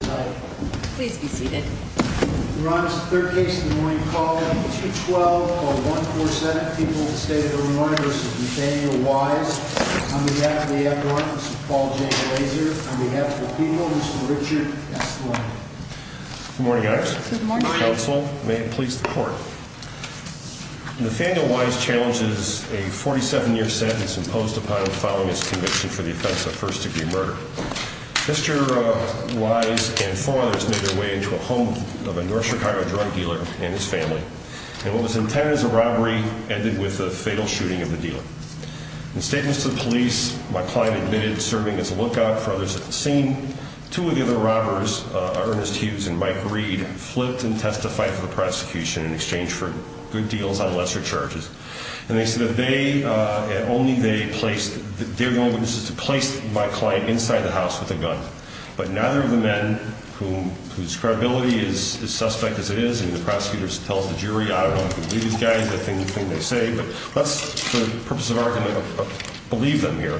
on behalf of the people, Mr. Richard S. Lange. Good morning, guys. Good morning. May it please the court. Nathaniel Wise challenges a 47-year sentence imposed upon him following his conviction for the offense of first-degree murder. Mr. Wise and fathers made their way into a home of a North Chicago drug dealer and his family. And what was intended as a robbery ended with the fatal shooting of the dealer. In statements to the police, my client admitted serving as a lookout for others at the scene. Two of the other robbers, Ernest Hughes and Mike Reed, flipped and testified for the prosecution in exchange for good deals on lesser charges. And they said that they, only they placed, they're the only witnesses to place my client inside the house with a gun. But neither of the men, whose credibility is suspect as it is, and the prosecutors tell the jury, I don't know if you believe these guys, the things they say, but let's, for the purpose of argument, believe them here.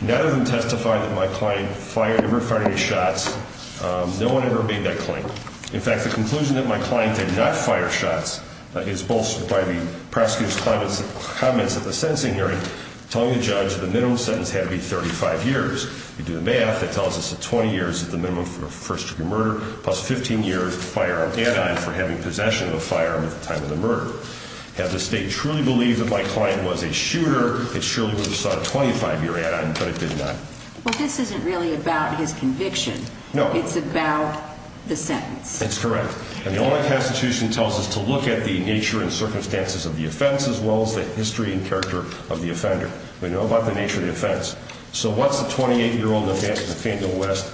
Neither of them testified that my client fired, ever fired any shots. No one ever made that claim. In fact, the conclusion that my sentencing hearing, telling the judge that the minimum sentence had to be 35 years. You do the math, that tells us that 20 years is the minimum for a first-degree murder, plus 15 years of firearm add-on for having possession of a firearm at the time of the murder. Had the state truly believed that my client was a shooter, it surely would have sought a 25-year add-on, but it did not. Well, this isn't really about his conviction. No. It's about the sentence. That's correct. And the only constitution tells us to look at the nature and circumstances of the offense as well as the history and character of the offender. We know about the nature of the offense. So what's the 28-year-old defendant, Nathaniel West,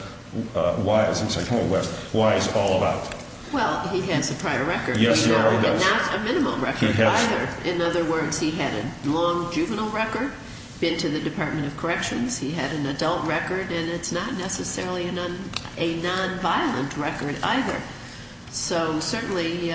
why is he all about? Well, he has a prior record, but not a minimum record either. In other words, he had a long juvenile record, been to the Department of Corrections, he had an adult record, and it's not a minimum record. So certainly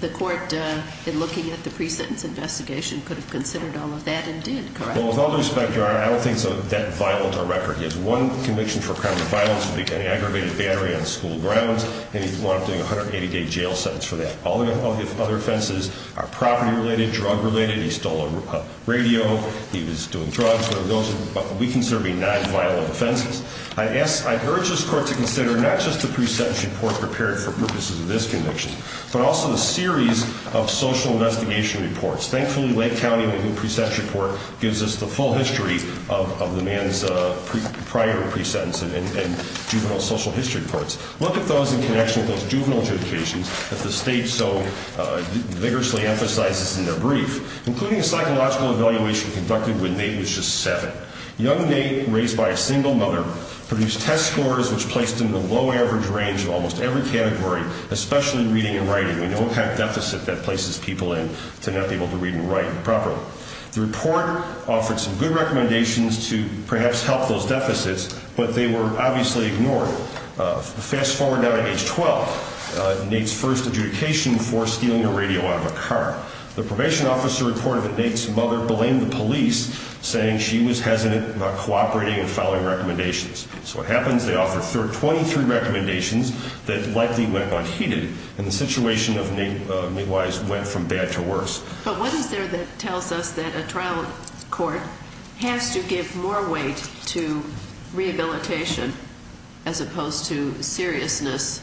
the court, in looking at the pre-sentence investigation, could have considered all of that and did, correct? Well, with all due respect, Your Honor, I don't think it's that violent a record. He has one conviction for a crime of violence, aggravated battery on school grounds, and he wound up doing a 180-day jail sentence for that. All of his other offenses are property-related, drug-related. He stole a radio, he was doing drugs, and those are what we consider to be non-violent offenses. I urge this court to consider not just the pre-sentence report prepared for purposes of this conviction, but also the series of social investigation reports. Thankfully, Lake County Pre-Sentence Report gives us the full history of the man's prior pre-sentence and juvenile social history reports. Look at those in connection with those juvenile adjudications that the State so vigorously emphasizes in their brief, including a psychological evaluation conducted when Nate was just 7. Young Nate, raised by a single mother, produced test scores which placed him in the low-average range of almost every category, especially reading and writing. We don't have deficit that places people in to not be able to read and write properly. The report offered some good recommendations to perhaps help those deficits, but they were obviously ignored. Fast-forward now to age 12, Nate's first adjudication for stealing a radio out of a car. The probation officer reported that Nate's mother blamed the police, saying she was hesitant about cooperating and following recommendations. So what happens? They offer 23 recommendations that likely went unheeded, and the situation of Nate, Nate Wise, went from bad to worse. But what is there that tells us that a trial court has to give more weight to rehabilitation as opposed to seriousness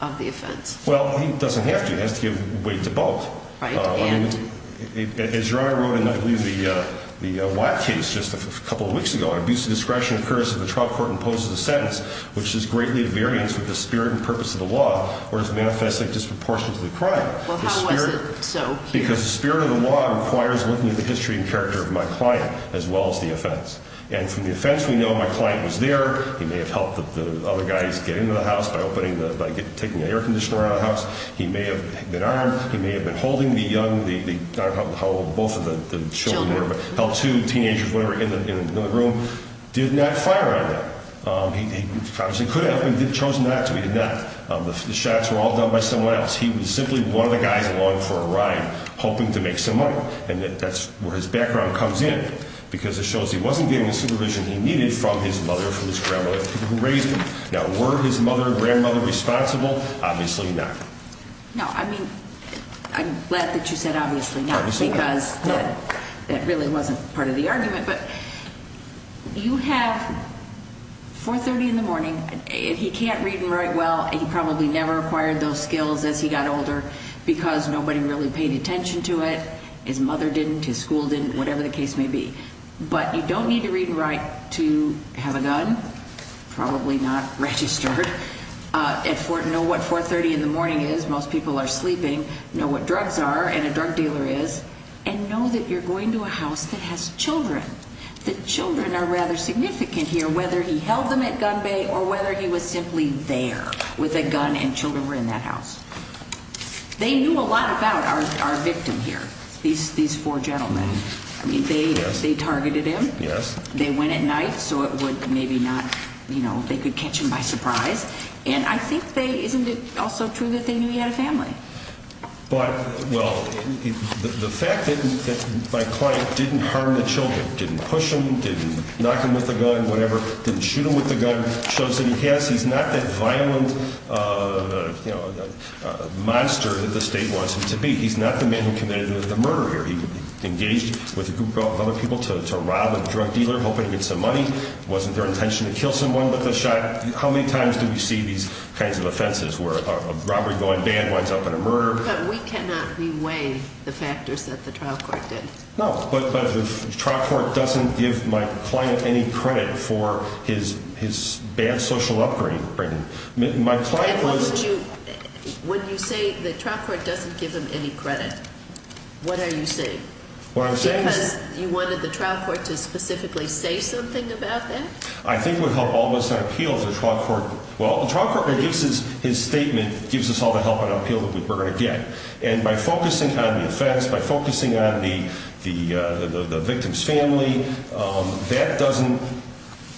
of the offense? Well, it doesn't have to. It has to give weight to both. As your Honor wrote in, I believe, the Watt case just a couple of weeks ago, an abuse of discretion occurs if the trial court imposes a sentence which is greatly a variance with the spirit and purpose of the law or is manifestly disproportionate to the crime. Well, how was it so here? The spirit of the law requires looking at the history and character of my client as well as the offense. And from the offense, we know my client was there. He may have helped the other guys get into the house by taking an air conditioner out of the house. He may have been armed. He may have been holding the young, not both of the children, but helped two teenagers, whatever, in the room. Did not fire on them. He could have, but he chose not to. He did not. The shots were all done by someone else. He was simply one of the guys along for a ride hoping to make some money. And that's where his background comes in because it shows he wasn't getting the supervision he needed from his mother, from his grandmother, the people who raised him. Now, were his mother and grandmother responsible? Obviously not. No, I mean, I'm glad that you said obviously not because that really wasn't part of the argument. But you have 4.30 in the morning. He can't read and write well. He probably never acquired those skills as he got older because nobody really paid attention to it. His mother didn't. His school didn't, whatever the case may be. But you don't need to read and write to have a gun, probably not registered, and know what 4.30 in the morning is. Most people are sleeping. Know what drugs are and a drug dealer is, and know that you're going to a house that has children. The children are rather significant here, whether he held them at gun bay or whether he was simply there with a gun and children were in that house. They knew a lot about our victim here, these four gentlemen. I mean, they targeted him. They went at night so it would maybe not, you know, they could catch him by surprise. And I think they, isn't it also true that they knew he had a family? But, well, the fact that my client didn't harm the children, didn't push him, didn't knock him with a gun, whatever, didn't shoot him with a gun shows that he has, he's not that violent monster that the state wants him to be. He's not the man who committed the murder here. He engaged with a group of other people to rob a drug dealer hoping to get some money. Wasn't their intention to kill someone with a shot? How many times do we see these kinds of offenses where a robbery-going band winds up in a murder? But we cannot re-weigh the factors that the trial court did. No, but the trial court doesn't give my client any credit for his bad social upbringing. My client was... And what do you, when you say the trial court doesn't give him any credit, what are you saying? What I'm saying is... Because you wanted the trial court to specifically say something about that? I think it would help all of us on appeal if the trial court, well, the trial court gives his statement, gives us all the help and appeal that we're going to get. And by focusing on the offense, by focusing on the victim's family, that doesn't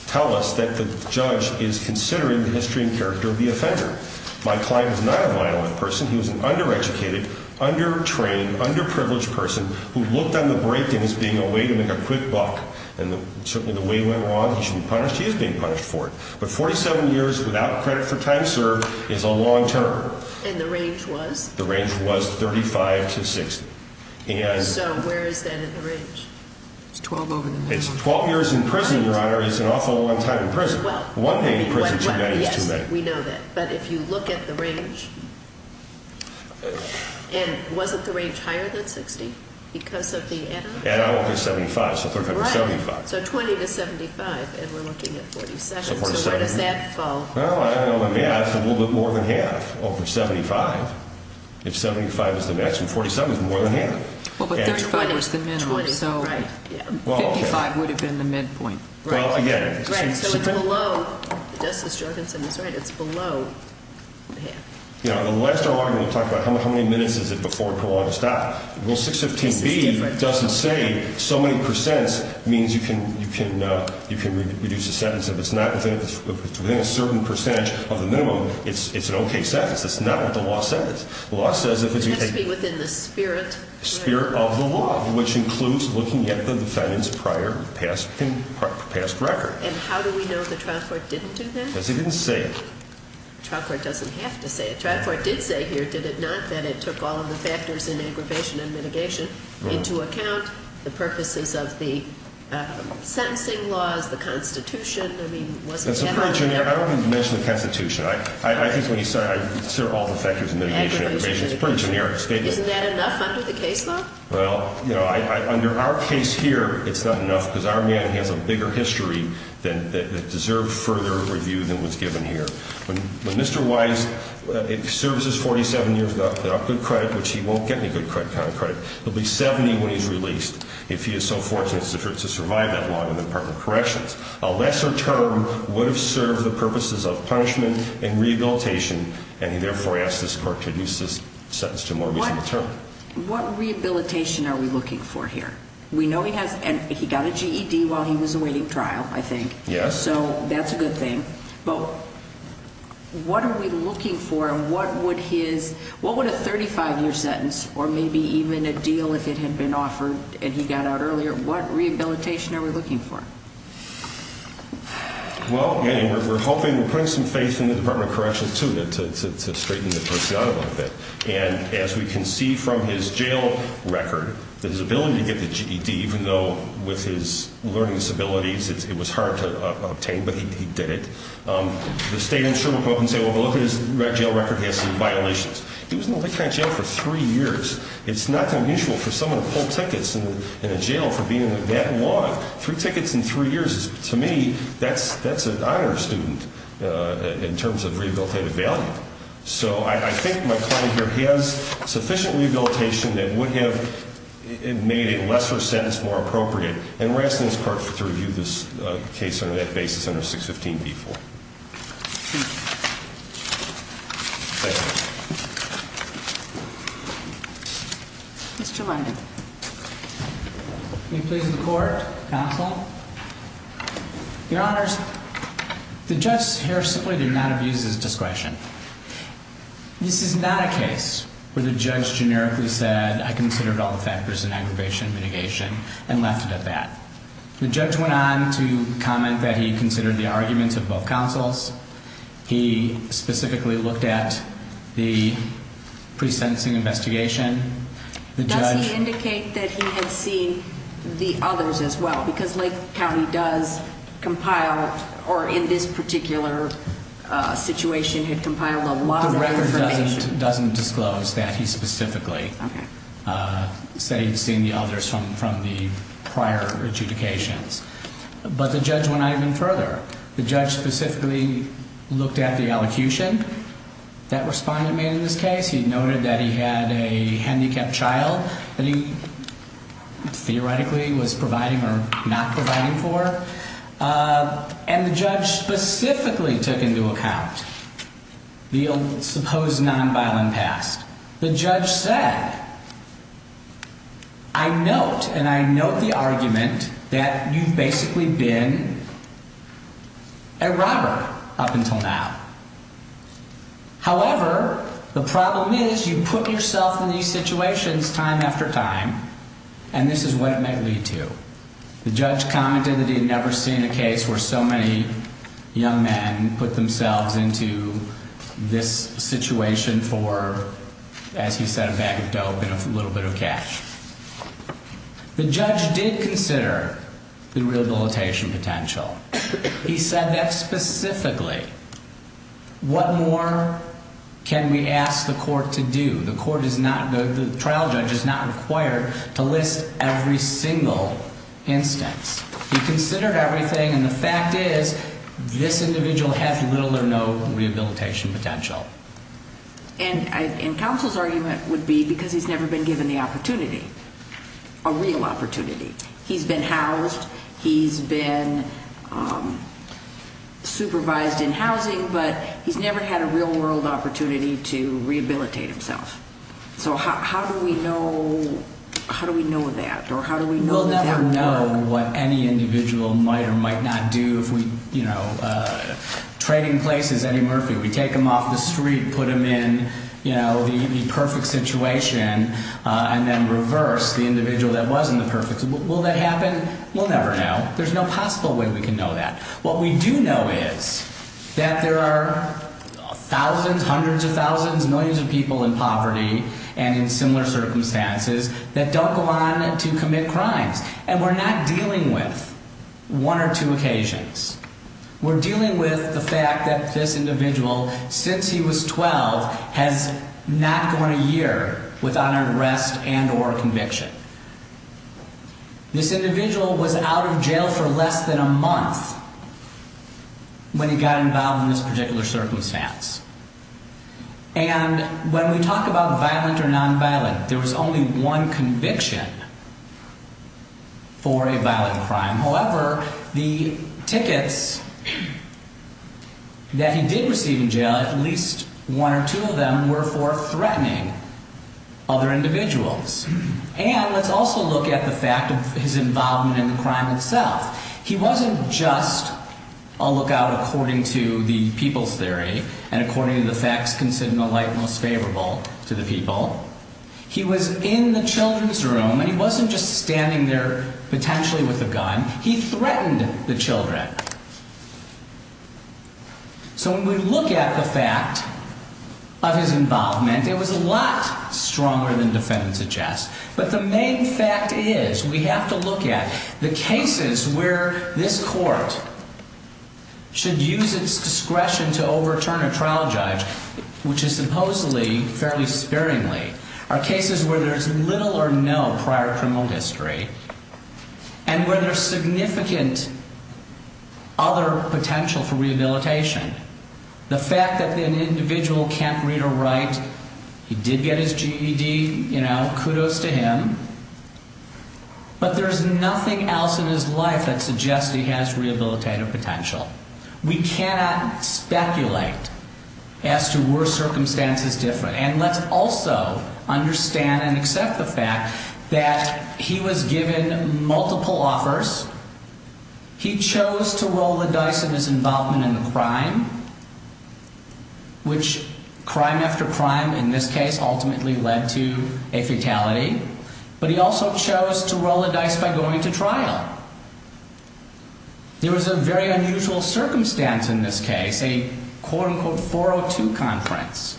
tell us that the judge is considering the history and character of the offender. My client is not a violent person. He was an under-educated, under-trained, under-privileged person who looked on the break-in as being a way to make a quick buck. And certainly the way it went along, he should be punished. He is being punished for it. But 47 years without credit for time served is a long term. And the range was? The range was 35 to 60. So where is that in the range? It's 12 over the minimum. 12 years in prison, Your Honor, is an awful long time in prison. One day in prison is too many. We know that. But if you look at the range, and wasn't the range higher than 60 because of the add-on? Add-on was 75, so 35 to 75. Right. So 20 to 75, and we're looking at 47. So where does that fall? Well, I don't know. It would be more than half over 75. If 75 is the maximum, 47 is more than half. Well, but 35 was the minimum, so 55 would have been the midpoint. Well, again. Right. So it's below, Justice Jorgensen is right, it's below half. You know, in the last argument we talked about how many minutes is it before parole ought to stop. Rule 615B doesn't say so many percents means you can reduce the sentence. If it's not within a certain percentage of the minimum, it's an okay sentence. That's not what the law says. The law says if it's been taken. It has to be within the spirit. Spirit of the law, which includes looking at the defendant's prior past record. And how do we know the trial court didn't do that? Because he didn't say it. The trial court doesn't have to say it. The trial court did say here, did it not, that it took all of the factors in aggravation and mitigation into account, the purposes of the sentencing laws, the Constitution. I mean, wasn't that all? That's a pretty generic. I don't want to mention the Constitution. I think when you say all the factors in mitigation and aggravation, it's a pretty generic statement. Isn't that enough under the case law? Well, under our case here, it's not enough because our man has a bigger history that deserved further review than was given here. When Mr. Wise serves his 47 years without good credit, which he won't get any good credit, he'll be 70 when he's released if he is so fortunate to survive that long in the Department of Corrections. A lesser term would have served the purposes of punishment and rehabilitation, and he therefore asked this court to reduce his sentence to a more reasonable term. What rehabilitation are we looking for here? We know he has, and he got a GED while he was awaiting trial, I think. Yes. So that's a good thing. But what are we looking for and what would his, what would a 35-year sentence, or maybe even a deal if it had been offered and he got out earlier, what rehabilitation are we looking for? Well, again, we're hoping, we're putting some faith in the Department of Corrections, too, to straighten the per se out a little bit. And as we can see from his jail record, that his ability to get the GED, even though with his learning disabilities it was hard to obtain, but he did it. The state insurer will come up and say, well, look at his jail record, he has some violations. He was in that kind of jail for three years. It's not unusual for someone to pull tickets in a jail for being that long. Three tickets in three years, to me, that's an honor student in terms of rehabilitative value. So I think my client here has sufficient rehabilitation that would have made a lesser sentence more appropriate. And we're asking this court to review this case on that basis under 615B4. Thank you. Mr. Lundin. Are you pleased with the court, counsel? Your Honors, the judge here simply did not abuse his discretion. This is not a case where the judge generically said, I considered all the factors in aggravation, mitigation, and left it at that. The judge went on to comment that he considered the arguments of both counsels. He specifically looked at the pre-sentencing investigation. Does he indicate that he had seen the others as well? Because Lake County does compile, or in this particular situation, had compiled a lot of information. The record doesn't disclose that he specifically said he'd seen the others from the prior adjudications. But the judge went on even further. The judge specifically looked at the elocution that respondent made in this case. He noted that he had a handicapped child that he theoretically was providing or not providing for. And the judge specifically took into account the supposed nonviolent past. The judge said, I note and I note the argument that you've basically been a robber up until now. However, the problem is you put yourself in these situations time after time, and this is what it may lead to. The judge commented that he had never seen a case where so many young men put themselves into this situation for, as he said, a bag of dope and a little bit of cash. The judge did consider the rehabilitation potential. He said that specifically. What more can we ask the court to do? The trial judge is not required to list every single instance. He considered everything, and the fact is this individual has little or no rehabilitation potential. And counsel's argument would be because he's never been given the opportunity, a real opportunity. He's been housed. He's been supervised in housing, but he's never had a real world opportunity to rehabilitate himself. So how do we know? How do we know that? Or how do we know that? We'll never know what any individual might or might not do. If we, you know, trading places, Eddie Murphy, we take him off the street, put him in, you know, the perfect situation and then reverse the individual that wasn't the perfect. Will that happen? We'll never know. There's no possible way we can know that. What we do know is that there are thousands, hundreds of thousands, millions of people in poverty and in similar circumstances that don't go on to commit crimes. And we're not dealing with one or two occasions. We're dealing with the fact that this individual, since he was 12, has not gone a year without an arrest and or conviction. This individual was out of jail for less than a month when he got involved in this particular circumstance. And when we talk about violent or nonviolent, there was only one conviction for a violent crime. However, the tickets that he did receive in jail, at least one or two of them, were for threatening other individuals. And let's also look at the fact of his involvement in the crime itself. He wasn't just a lookout according to the people's theory and according to the facts considered in the light most favorable to the people. He was in the children's room, and he wasn't just standing there potentially with a gun. He threatened the children. So when we look at the fact of his involvement, it was a lot stronger than defendants suggest. But the main fact is we have to look at the cases where this court should use its discretion to overturn a trial judge, which is supposedly fairly sparingly, are cases where there's little or no prior criminal history and where there's significant other potential for rehabilitation. The fact that an individual can't read or write, he did get his GED, you know, kudos to him. But there's nothing else in his life that suggests he has rehabilitative potential. We cannot speculate as to were circumstances different. And let's also understand and accept the fact that he was given multiple offers. He chose to roll the dice in his involvement in the crime, which crime after crime in this case ultimately led to a fatality. But he also chose to roll the dice by going to trial. There was a very unusual circumstance in this case, a quote unquote 402 conference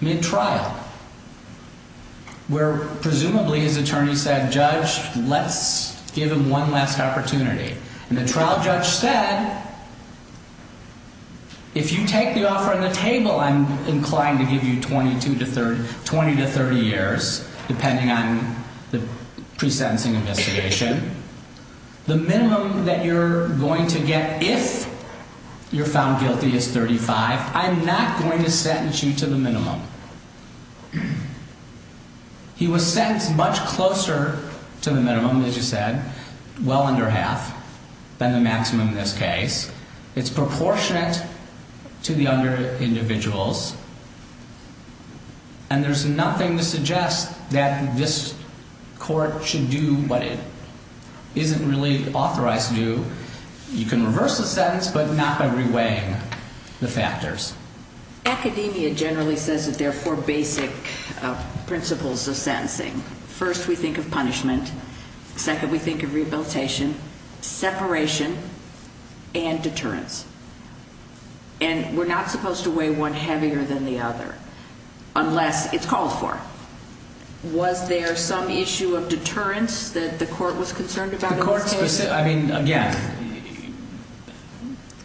mid-trial, where presumably his attorney said, if you're a trial judge, let's give him one last opportunity. And the trial judge said, if you take the offer on the table, I'm inclined to give you 20 to 30 years, depending on the pre-sentencing investigation. The minimum that you're going to get if you're found guilty is 35. I'm not going to sentence you to the minimum. He was sentenced much closer to the minimum, as you said, well under half than the maximum in this case. It's proportionate to the under-individuals. And there's nothing to suggest that this court should do what it isn't really authorized to do. You can reverse the sentence, but not by reweighing the factors. Academia generally says that there are four basic principles of sentencing. First, we think of punishment. Second, we think of rehabilitation, separation, and deterrence. And we're not supposed to weigh one heavier than the other, unless it's called for. Was there some issue of deterrence that the court was concerned about in this case? I mean, again,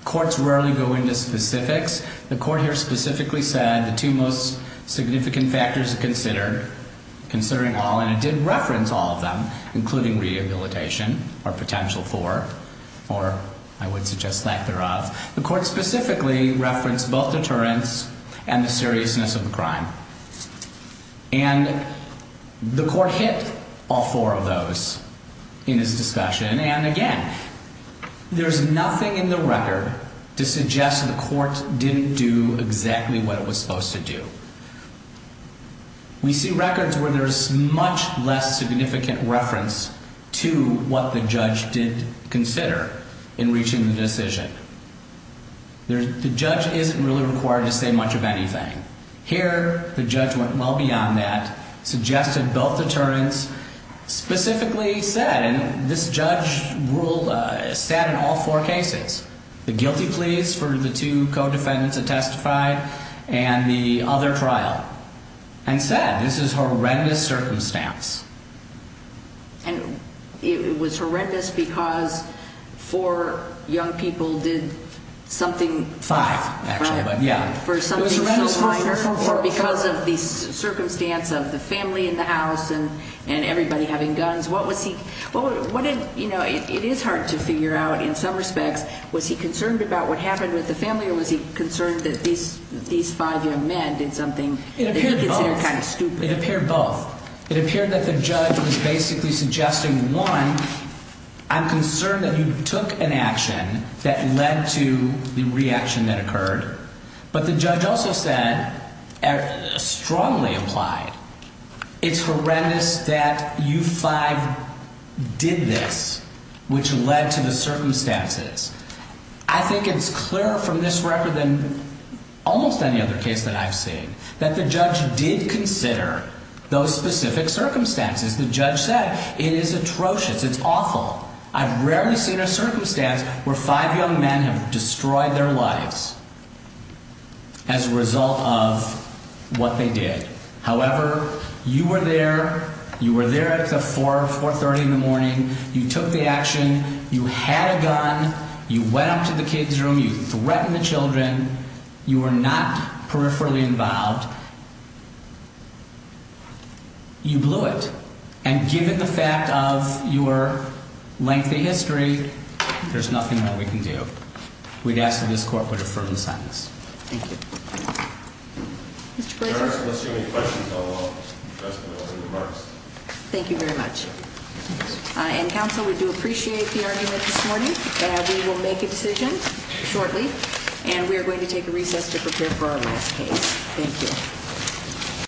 courts rarely go into specifics. The court here specifically said the two most significant factors to consider, considering all, and it did reference all of them, including rehabilitation or potential for, or I would suggest lack thereof. The court specifically referenced both deterrence and the seriousness of the crime. And the court hit all four of those in this discussion. And, again, there's nothing in the record to suggest the court didn't do exactly what it was supposed to do. We see records where there's much less significant reference to what the judge did consider in reaching the decision. The judge isn't really required to say much of anything. Here, the judge went well beyond that, suggested both deterrence, specifically said, and this judge ruled, said in all four cases, the guilty pleas for the two co-defendants that testified and the other trial, and said this is horrendous circumstance. And it was horrendous because four young people did something. Five, actually, but yeah. For something so minor or because of the circumstance of the family in the house and everybody having guns, what was he, what did, you know, it is hard to figure out in some respects. Was he concerned about what happened with the family or was he concerned that these five young men did something that he considered kind of stupid? It appeared both. It appeared that the judge was basically suggesting, one, I'm concerned that you took an action that led to the reaction that occurred. But the judge also said, strongly implied, it's horrendous that you five did this, which led to the circumstances. I think it's clear from this record than almost any other case that I've seen that the judge did consider those specific circumstances. The judge said it is atrocious. It's awful. I've rarely seen a circumstance where five young men have destroyed their lives as a result of what they did. However, you were there. You were there at the 4, 430 in the morning. You took the action. You had a gun. You went up to the kids' room. You threatened the children. You were not peripherally involved. You blew it. And given the fact of your lengthy history, there's nothing that we can do. We'd ask that this Court would affirm the sentence. Thank you. Mr. Glazer? I don't see any questions. I'll address them in the opening remarks. Thank you very much. And, Counsel, we do appreciate the argument this morning. We will make a decision shortly, and we are going to take a recess to prepare for our last case. Thank you.